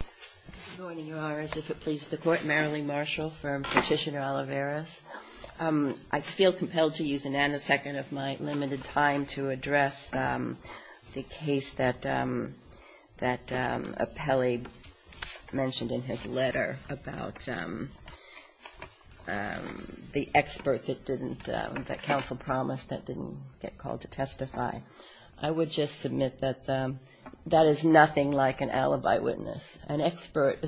I feel compelled to use a nanosecond of my limited time to address the case that Apelli mentioned in his letter about the expert that Council promised that didn't get called to an expert.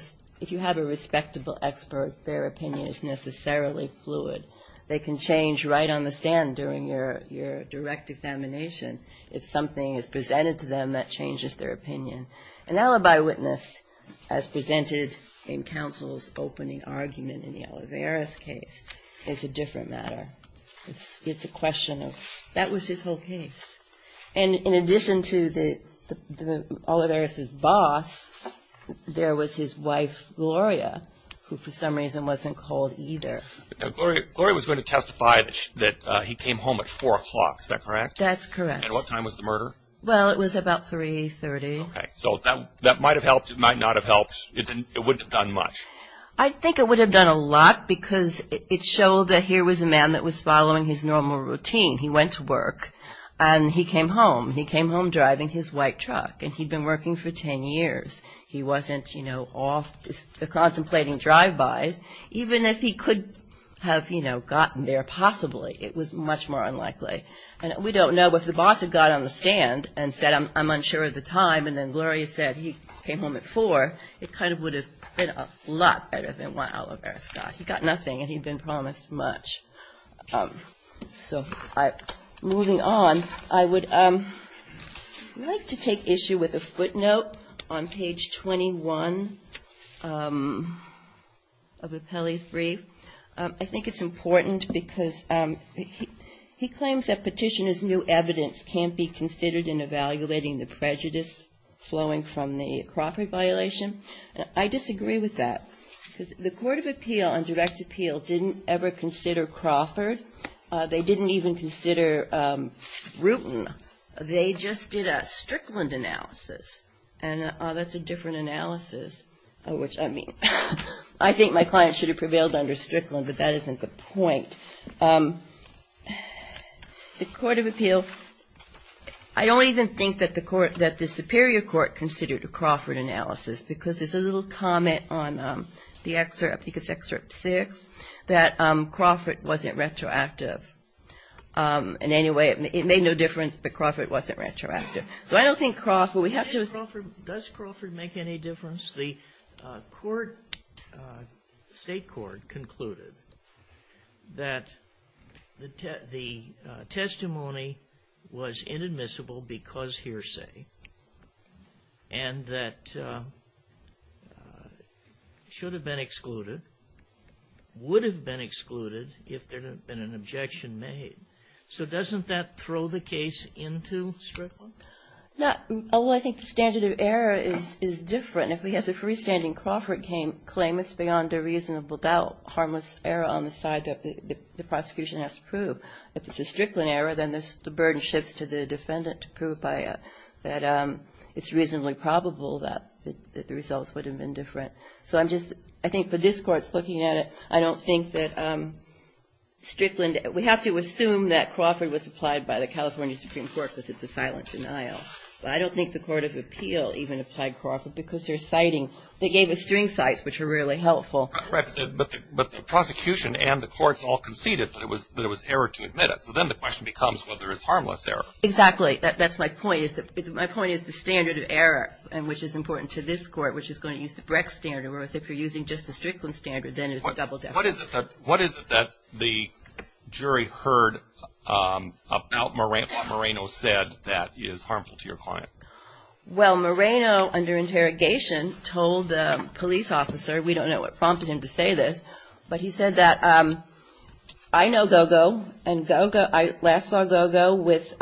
If you have a respectable expert, their opinion is necessarily fluid. They can change right on the stand during your direct examination. If something is presented to them, that changes their opinion. An alibi witness, as presented in Council's opening argument in the Olivares case, is a different matter. It's a question of, that was his whole case. And in addition to Olivares' boss, there was his wife, Gloria, who for some reason wasn't called either. Now, Gloria was going to testify that he came home at 4 o'clock, is that correct? That's correct. And what time was the murder? Well, it was about 3.30. Okay, so that might have helped, it might not have helped, it wouldn't have done much? I think it would have done a lot because it showed that here was a man that was following his normal routine. He went to work and he came home. He came home driving his white truck and he'd been working for 10 years. He wasn't, you know, off contemplating drive-bys. Even if he could have, you know, gotten there possibly, it was much more unlikely. And we don't know if the boss had got on the stand and said, I'm unsure of the time, and then Gloria said he came home at 4, it kind of would have been a lot better than what Olivares got. He got nothing and he'd been promised much. So moving on, I would like to take issue with a footnote on page 21 of Appelli's brief. I think it's important because he claims that petitioner's new evidence can't be considered in evaluating the prejudice flowing from the crockery violation. I disagree with that because the Court of Appeal on direct appeal didn't ever consider Crawford. They didn't even consider Rutan. They just did a Strickland analysis and that's a different analysis, which I mean, I think my client should have prevailed under Strickland, but that isn't the point. The Court of Appeal, I don't even think that the Superior Court considered a Crawford analysis because there's a little comment on the excerpt, I think it's excerpt 6, that Crawford wasn't retroactive in any way. It made no difference, but Crawford wasn't retroactive. So I don't think Crawford, we have to Sotomayor Does Crawford make any difference? The court, State court concluded that the testimony was inadmissible because hearsay and that should have been excluded, would have been excluded if there had been an objection made. So doesn't that throw the case into Strickland? Well, I think the standard of error is different. If he has a freestanding Crawford claim, it's beyond a reasonable doubt, harmless error on the side that the prosecution has to prove. If it's a Strickland error, then the burden shifts to the defendant to prove that it's reasonably probable that the results would have been different. So I'm just, I think for this Court's looking at it, I don't think that Strickland, we have to assume that Crawford was applied by the California Supreme Court because it's a silent denial. But I don't think the Court of Appeal even applied Crawford because they're citing, they gave us string cites which are really helpful. But the prosecution and the courts all conceded that it was error to admit it. So then the question becomes whether it's harmless error. Exactly. That's my point. My point is the standard of error, and which is important to this Court, which is going to use the Brecht standard, whereas if you're using just the Strickland standard, then it's a double deference. What is it that the jury heard about what Moreno said that is harmful to your client? Well, Moreno, under interrogation, told the police officer, we don't know what prompted him to say this, but he said that, I know Gogo and Gogo, I last saw Gogo with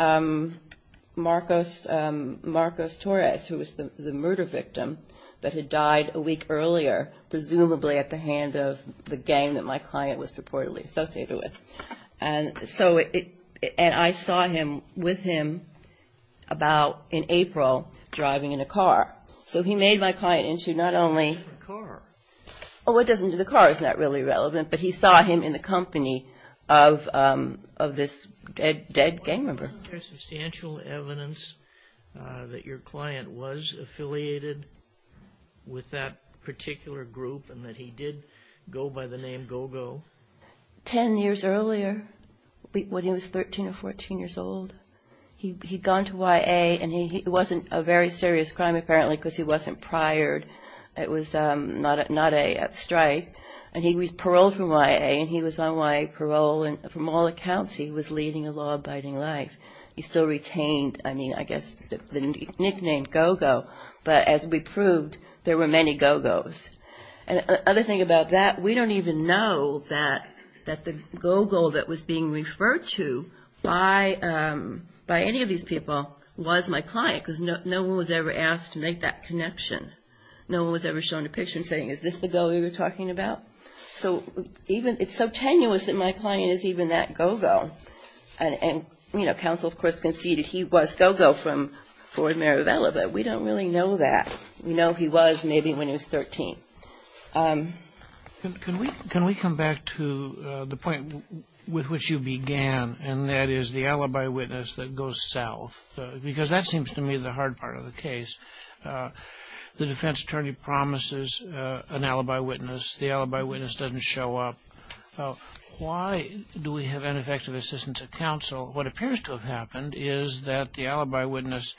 Marcos Torres, who was the murder victim that had died a week earlier, presumably at the hand of the gang that my client was purportedly associated with. And so it, and I saw him, with him, about in April, driving in a car. So he made my client into not only A different car. Oh, it doesn't, the car is not really relevant, but he saw him in the company of this dead gang member. Wasn't there substantial evidence that your client was affiliated with that particular group, and that he did go by the name Gogo? Ten years earlier, when he was 13 or 14 years old, he'd gone to YA, and he, it wasn't a very serious crime, apparently, because he wasn't priored. It was not a strike. And he was paroled from YA, and he was on YA parole, and from all accounts, he was leading a law-abiding life. He still retained, I mean, I guess, the nickname Gogo, but as we proved, there were many Gogos. And the other thing about that, we don't even know that the Gogo that was being referred to by any of these people was my client, because no one was ever asked to make that connection. No one was ever shown a picture and saying, is this the Gogo you were talking about? So even, it's so tenuous that my client is even that Gogo. And, you know, counsel, of course, conceded he was Gogo from Ford Marivella, but we don't really know that. We know he was maybe when he was 13. Can we, can we come back to the point with which you began, and that is the alibi witness that goes south? Because that seems to me the hard part of the case. The defense attorney promises an alibi witness. The alibi witness doesn't show up. Why do we have ineffective assistance of counsel? What appears to have happened is that the alibi witness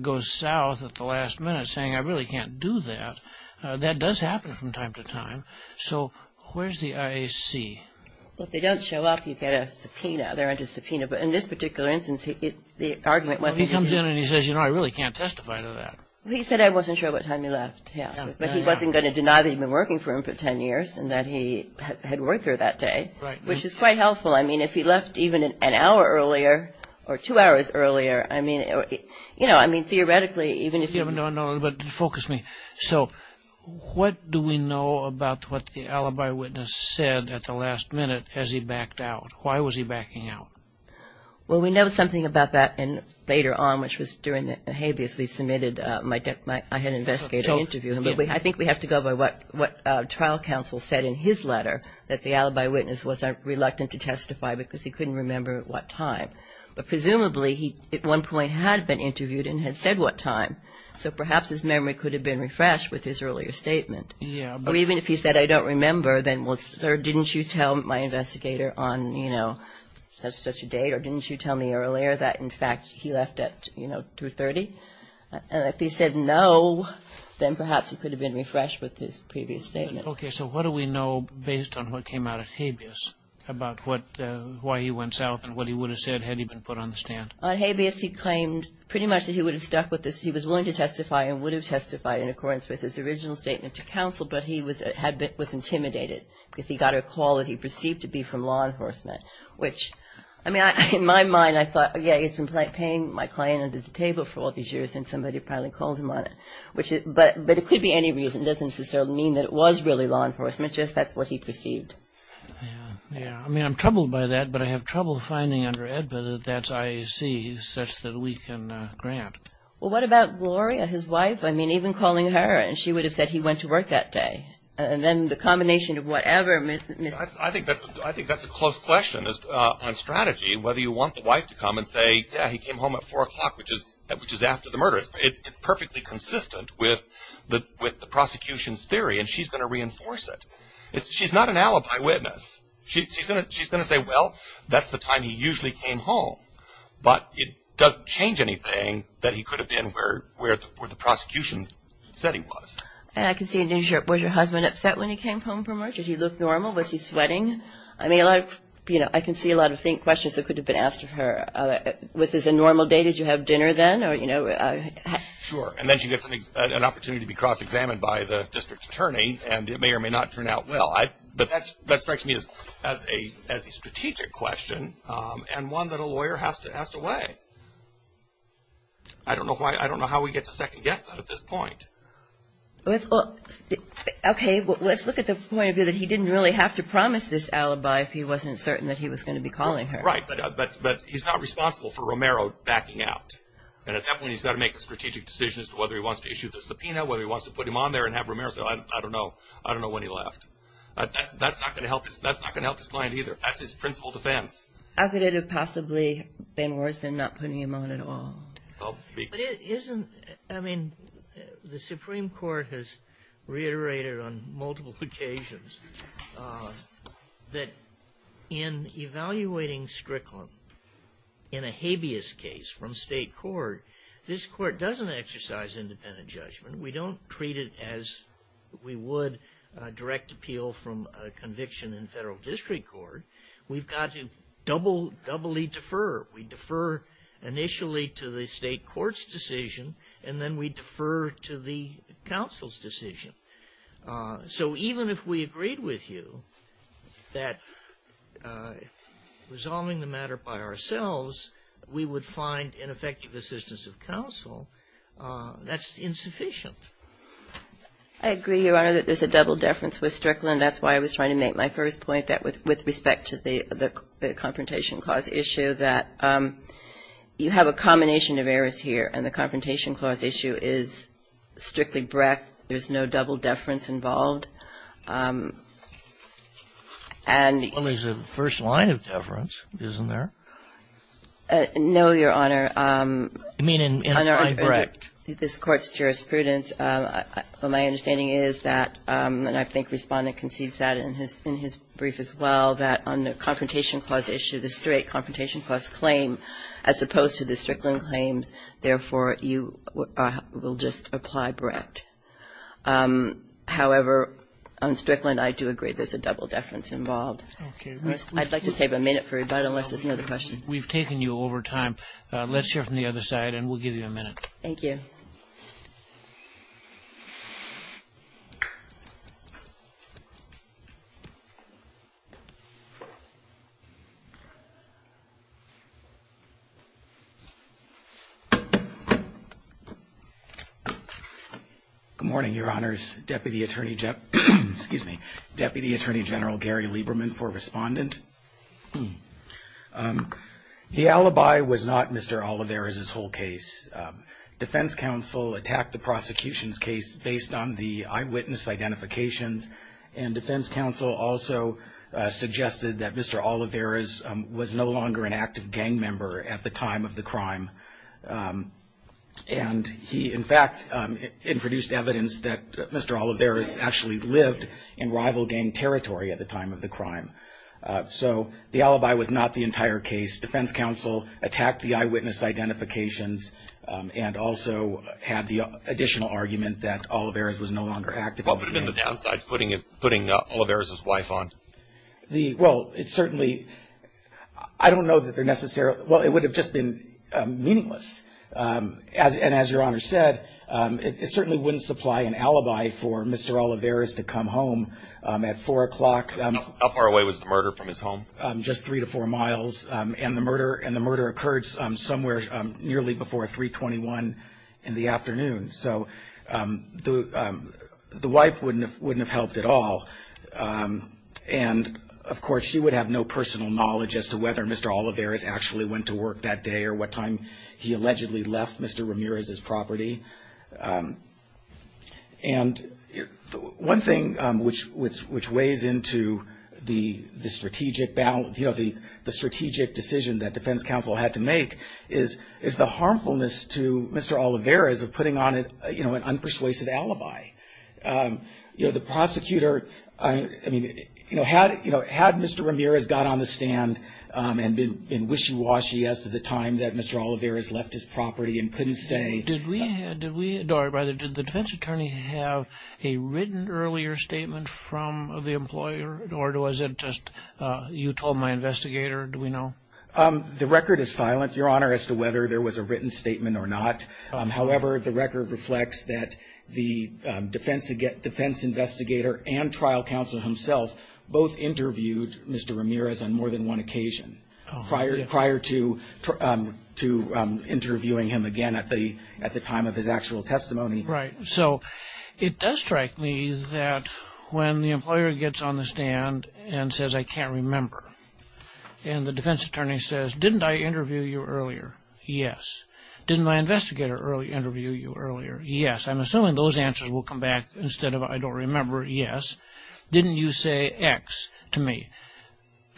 goes south at the last minute saying, I really can't do that. That does happen from time to time. So where's the IAC? Well, if they don't show up, you get a subpoena. They're under subpoena. But in this particular instance, the argument wasn't... Well, he comes in and he says, you know, I really can't testify to that. He said, I wasn't sure what time he left. Yeah. But he wasn't going to deny that he'd been working for him for ten years and that he had worked there that day, which is quite helpful. I mean, if he left even an hour earlier or two hours earlier, I mean, you know, I mean, even if... No, no. But focus me. So what do we know about what the alibi witness said at the last minute as he backed out? Why was he backing out? Well, we know something about that later on, which was during the habeas we submitted. I had an investigator interview him. But I think we have to go by what trial counsel said in his letter, that the alibi witness was reluctant to testify because he couldn't remember what time. But presumably, he at one point had been interviewed and had said what time. So perhaps his memory could have been refreshed with his earlier statement. Yeah, but... Or even if he said, I don't remember, then, well, sir, didn't you tell my investigator on, you know, such and such a date or didn't you tell me earlier that, in fact, he left at, you know, 2.30? And if he said no, then perhaps it could have been refreshed with his previous statement. Okay. So what do we know based on what came out of habeas about what, why he went south and what he would have said had he been put on the stand? On habeas, he claimed pretty much that he would have stuck with this. He was willing to testify and would have testified in accordance with his original statement to counsel. But he was, had been, was intimidated because he got a call that he perceived to be from law enforcement, which, I mean, in my mind, I thought, yeah, he's been paying my client under the table for all these years and somebody probably called him on it. But it could be any reason. It doesn't necessarily mean that it was really law enforcement, just that's what he perceived. Yeah, yeah. I mean, I'm troubled by that, but I have trouble finding under AEDPA that I see such that we can grant. Well, what about Gloria, his wife? I mean, even calling her and she would have said he went to work that day. And then the combination of whatever, Mr. I think that's a close question on strategy, whether you want the wife to come and say, yeah, he came home at 4 o'clock, which is after the murder. It's perfectly consistent with the prosecution's theory and she's going to reinforce it. She's not an alibi witness. She's going to say, well, that's the time he usually came home. But it doesn't change anything that he could have been where the prosecution said he was. And I can see, was your husband upset when he came home from work? Did he look normal? Was he sweating? I mean, I can see a lot of questions that could have been asked of her. Was this a normal day? Did you have dinner then? Sure. And then she gets an opportunity to be cross-examined by the district attorney and it may or may not turn out well. But that strikes me as a strategic question and one that a lawyer has to weigh. I don't know how we get to second-guess that at this point. Okay. Let's look at the point of view that he didn't really have to promise this alibi if he wasn't certain that he was going to be calling her. Right. But he's not responsible for Romero backing out. And at that point, he's got to make a strategic decision as to whether he wants to issue the subpoena, whether he wants to put him on there and have Romero say, I don't know, I don't know when he left. That's not going to help his client either. That's his principal defense. How could it have possibly been worse than not putting him on at all? But isn't, I mean, the Supreme Court has reiterated on multiple occasions that in evaluating Strickland in a habeas case from state court, this court doesn't exercise independent judgment. We don't treat it as we would direct appeal from a conviction in federal district court. We've got to doubly defer. We defer initially to the state court's decision, and then we defer to the counsel's decision. So even if we agreed with you that resolving the matter by ourselves, we would find ineffective assistance of counsel, that's insufficient. I agree, Your Honor, that there's a double deference with Strickland. That's why I was trying to make my first point, that with respect to the Confrontation Clause issue, that you have a combination of errors here, and the Confrontation Clause issue is strictly Brecht. There's no double deference involved. And the other line of deference, isn't there? No, Your Honor. You mean apply Brecht? Under this Court's jurisprudence, my understanding is that, and I think Respondent concedes that in his brief as well, that on the Confrontation Clause issue, the straight Confrontation Clause claim, as opposed to the Strickland claims, therefore, you will just apply Brecht. However, on Strickland, I do agree there's a double deference involved. I'd like to save a minute for rebuttal, unless there's another question. We've taken you over time. Let's hear from the other side, and we'll give you a minute. Thank you. Good morning, Your Honors. Deputy Attorney, excuse me, Deputy Attorney General Gary Lieberman for Respondent. The alibi was not Mr. Oliveira's whole case. Defense counsel attacked the prosecution's case based on the eyewitness identifications, and defense counsel also suggested that Mr. Oliveira was no longer an active gang member at the time of the crime. And he, in fact, introduced evidence that Mr. Oliveira actually lived in rival gang territory at the time of the crime. So the alibi was not the entire case. Defense counsel attacked the eyewitness identifications and also had the additional argument that Oliveira was no longer active in the gang. What would have been the downside to putting Oliveira's wife on? Well, it certainly, I don't know that they're necessarily, well, it would have just been meaningless. And as Your Honor said, it certainly wouldn't supply an alibi for Mr. Oliveira to come home at 4 o'clock. How far away was the murder from his home? Just three to four miles. And the murder occurred somewhere nearly before 321 in the afternoon. So the wife wouldn't have helped at all. And of course, she would have no personal knowledge as to whether Mr. Oliveira actually went to work that day or what time he allegedly left Mr. Ramirez's property. And one thing which weighs into the strategic decision that defense counsel had to make is the harmfulness to Mr. Oliveira's of putting on an unpersuasive alibi. You know, the prosecutor, I mean, had Mr. Ramirez got on the stand and been wishy-washy as to the time that Mr. Oliveira has left his property and couldn't say... Did we, or rather, did the defense attorney have a written earlier statement from the employer? Or was it just you told my investigator? Do we know? The record is silent, Your Honor, as to whether there was a written statement or not. However, the record reflects that the defense investigator and trial counsel himself both interviewed Mr. Ramirez on more than one occasion prior to interviewing him again at the time of his actual testimony. Right. So it does strike me that when the employer gets on the stand and says, I can't remember, and the defense attorney says, didn't I interview you earlier? Yes. Didn't my investigator early interview you earlier? Yes. I'm assuming those answers will come back instead of I don't remember. Yes. Didn't you say X to me?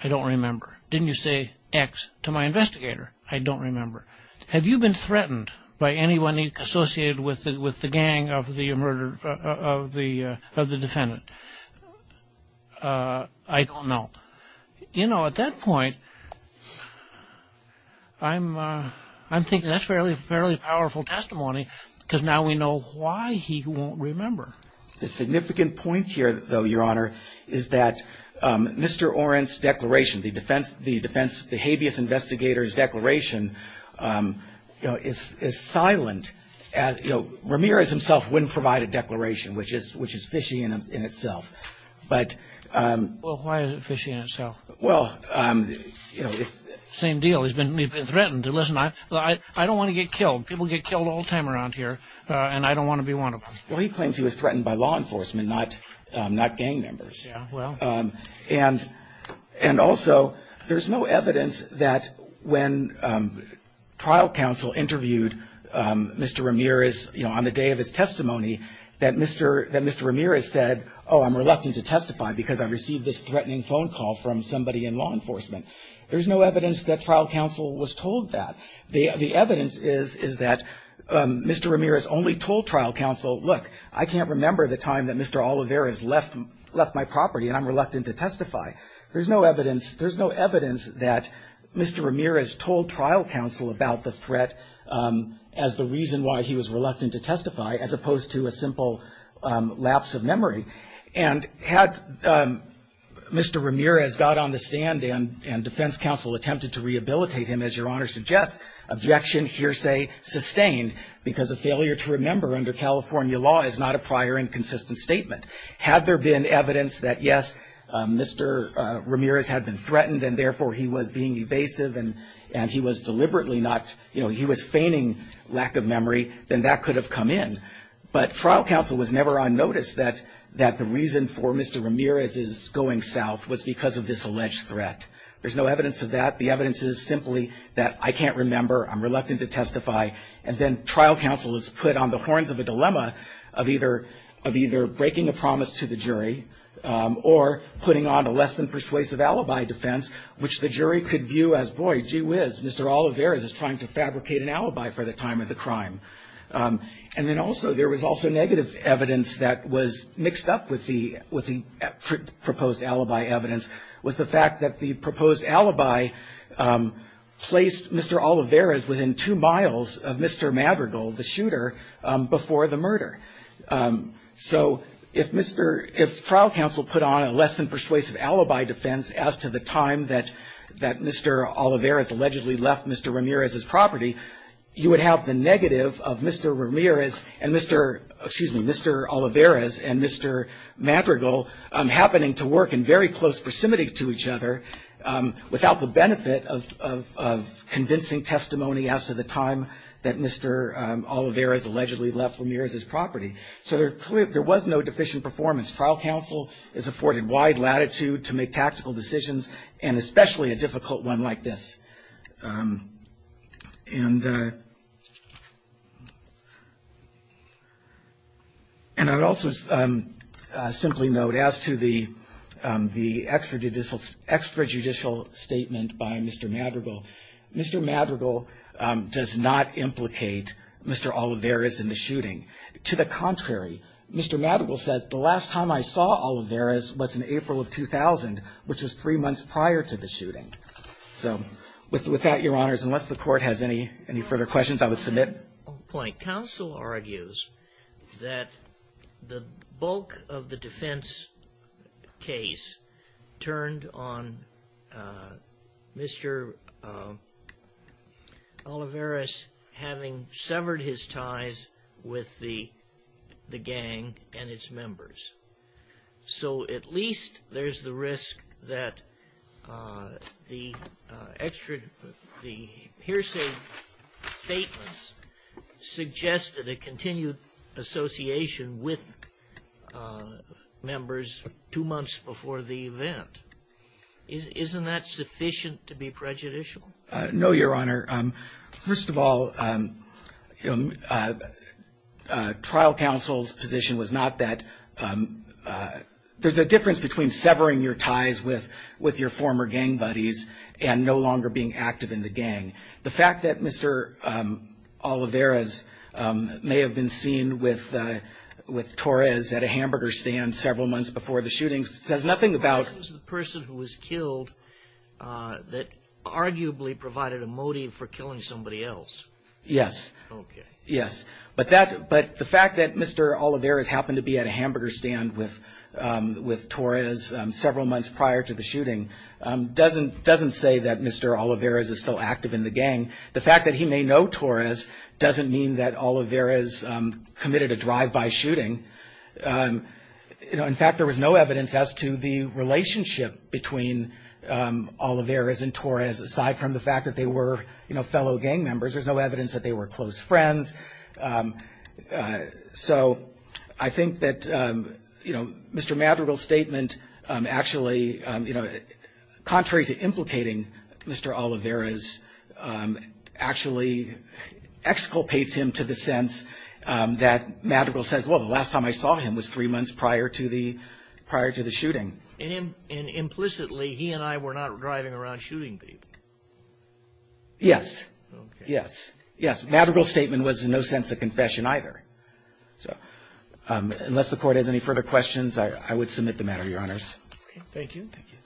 I don't remember. Didn't you say X to my investigator? I don't remember. Was he threatened by anyone he associated with the gang of the defendant? I don't know. You know, at that point, I'm thinking that's a fairly powerful testimony because now we know why he won't remember. The significant point here, though, Your Honor, is that Mr. Oren's declaration, the habeas investigator's declaration, is silent. Ramirez himself wouldn't provide a declaration, which is fishy in itself. Well, why is it fishy in itself? Same deal. He's been threatened. Listen, I don't want to get killed. People get killed all the time around here, and I don't want to be one of them. Well, he claims he was threatened by law enforcement, not gang members. And also, there's no evidence that when trial counsel interviewed Mr. Ramirez, you know, on the day of his testimony, that Mr. Ramirez said, oh, I'm reluctant to testify because I received this threatening phone call from somebody in law enforcement. There's no evidence that trial counsel was told that. The evidence is that Mr. Ramirez only told trial counsel, look, I can't remember the time that Mr. Oliveira has left my property, and I'm reluctant to testify. There's no evidence, there's no evidence that Mr. Ramirez told trial counsel about the threat as the reason why he was reluctant to testify, as opposed to a simple lapse of memory. And had Mr. Ramirez got on the stand and defense counsel attempted to rehabilitate him, as Your Honor suggests, objection, hearsay, sustained, because a failure to remember under California law is not a prior inconsistent statement. Had there been evidence that yes, Mr. Ramirez had been threatened, and therefore he was being evasive, and he was deliberately not, you know, he was feigning lack of memory, then that could have come in. But trial counsel was never on notice that the reason for Mr. Ramirez's going south was because of this alleged threat. There's no evidence of that. The evidence is simply that I can't remember, I'm reluctant to of either breaking a promise to the jury, or putting on a less than persuasive alibi defense, which the jury could view as, boy, gee whiz, Mr. Oliveira is trying to fabricate an alibi for the time of the crime. And then also, there was also negative evidence that was mixed up with the, with the proposed alibi evidence, was the fact that the proposed alibi placed Mr. Oliveira within two miles of Mr. Madrigal, the shooter, before the murder. So, if Mr., if trial counsel put on a less than persuasive alibi defense as to the time that, that Mr. Oliveira has allegedly left Mr. Ramirez's property, you would have the negative of Mr. Ramirez and Mr., excuse me, Mr. Oliveira's and Mr. Madrigal happening to work in very close proximity to each other, without the as to the time that Mr. Oliveira has allegedly left Ramirez's property. So, there, there was no deficient performance. Trial counsel is afforded wide latitude to make tactical decisions, and especially a difficult one like this. And, and I would also simply note as to the, the extra judicial, extra judicial statement by Mr. Madrigal. Mr. Madrigal does not implicate Mr. Oliveira's in the shooting. To the contrary, Mr. Madrigal says, the last time I saw Oliveira's was in April of 2000, which was three months prior to the shooting. So, with, with that, your honors, unless the court has any, any further questions, I would submit. One point. Counsel argues that the bulk of the defense case turned on Mr. Oliveira's having severed his ties with the, the gang and its members. So, at least there's the risk that the extra, the hearsay statements suggested a continued association with members two months before the event. Is, isn't that sufficient to be prejudicial? No, your honor. First of all, trial counsel's position was not that there's a difference between severing your ties with, with your former gang buddies and no longer being active in the gang. The fact that Mr. Oliveira's may have been seen with, with Torres at a hamburger stand several months before the shooting says nothing about. It was the person who was killed that arguably provided a motive for killing somebody else. Yes. Okay. Yes. But that, but the fact that Mr. Oliveira's happened to be at a hamburger stand with Torres several months prior to the shooting doesn't, doesn't say that Mr. Oliveira's is still active in the gang. The fact that he may know Torres doesn't mean that Oliveira's committed a drive-by shooting. You know, in fact, there was no evidence as to the relationship between Oliveira's and Torres aside from the fact that they were, you know, fellow gang members. There's no evidence that they were close friends. So, I think that, you know, Mr. Madrigal's statement actually, you know, contrary to implicating Mr. Oliveira's, actually exculpates him to the sense that Madrigal says, well, the last time I saw him was three months prior to the, prior to the shooting. And implicitly, he and I were not driving around shooting people. Yes. Okay. Yes. Yes. Madrigal's statement was in no sense a confession either. So, unless the Court has any further questions, I would submit the matter, Your Honors. Okay. Thank you. Thank you.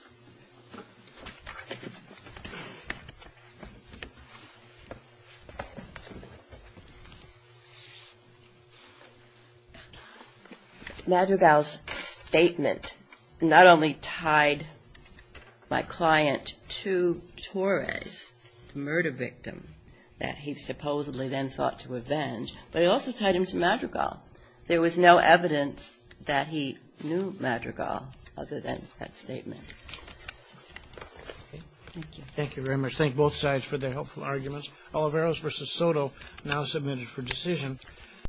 Madrigal's statement not only tied my client to Torres, the murder victim that he supposedly then sought to avenge, but it also tied him to Madrigal. There was no evidence that he knew Madrigal other than that statement. Okay. Thank you. Thank you very much. Thank both sides for their helpful arguments. Oliveira v. Soto now submitted for decision.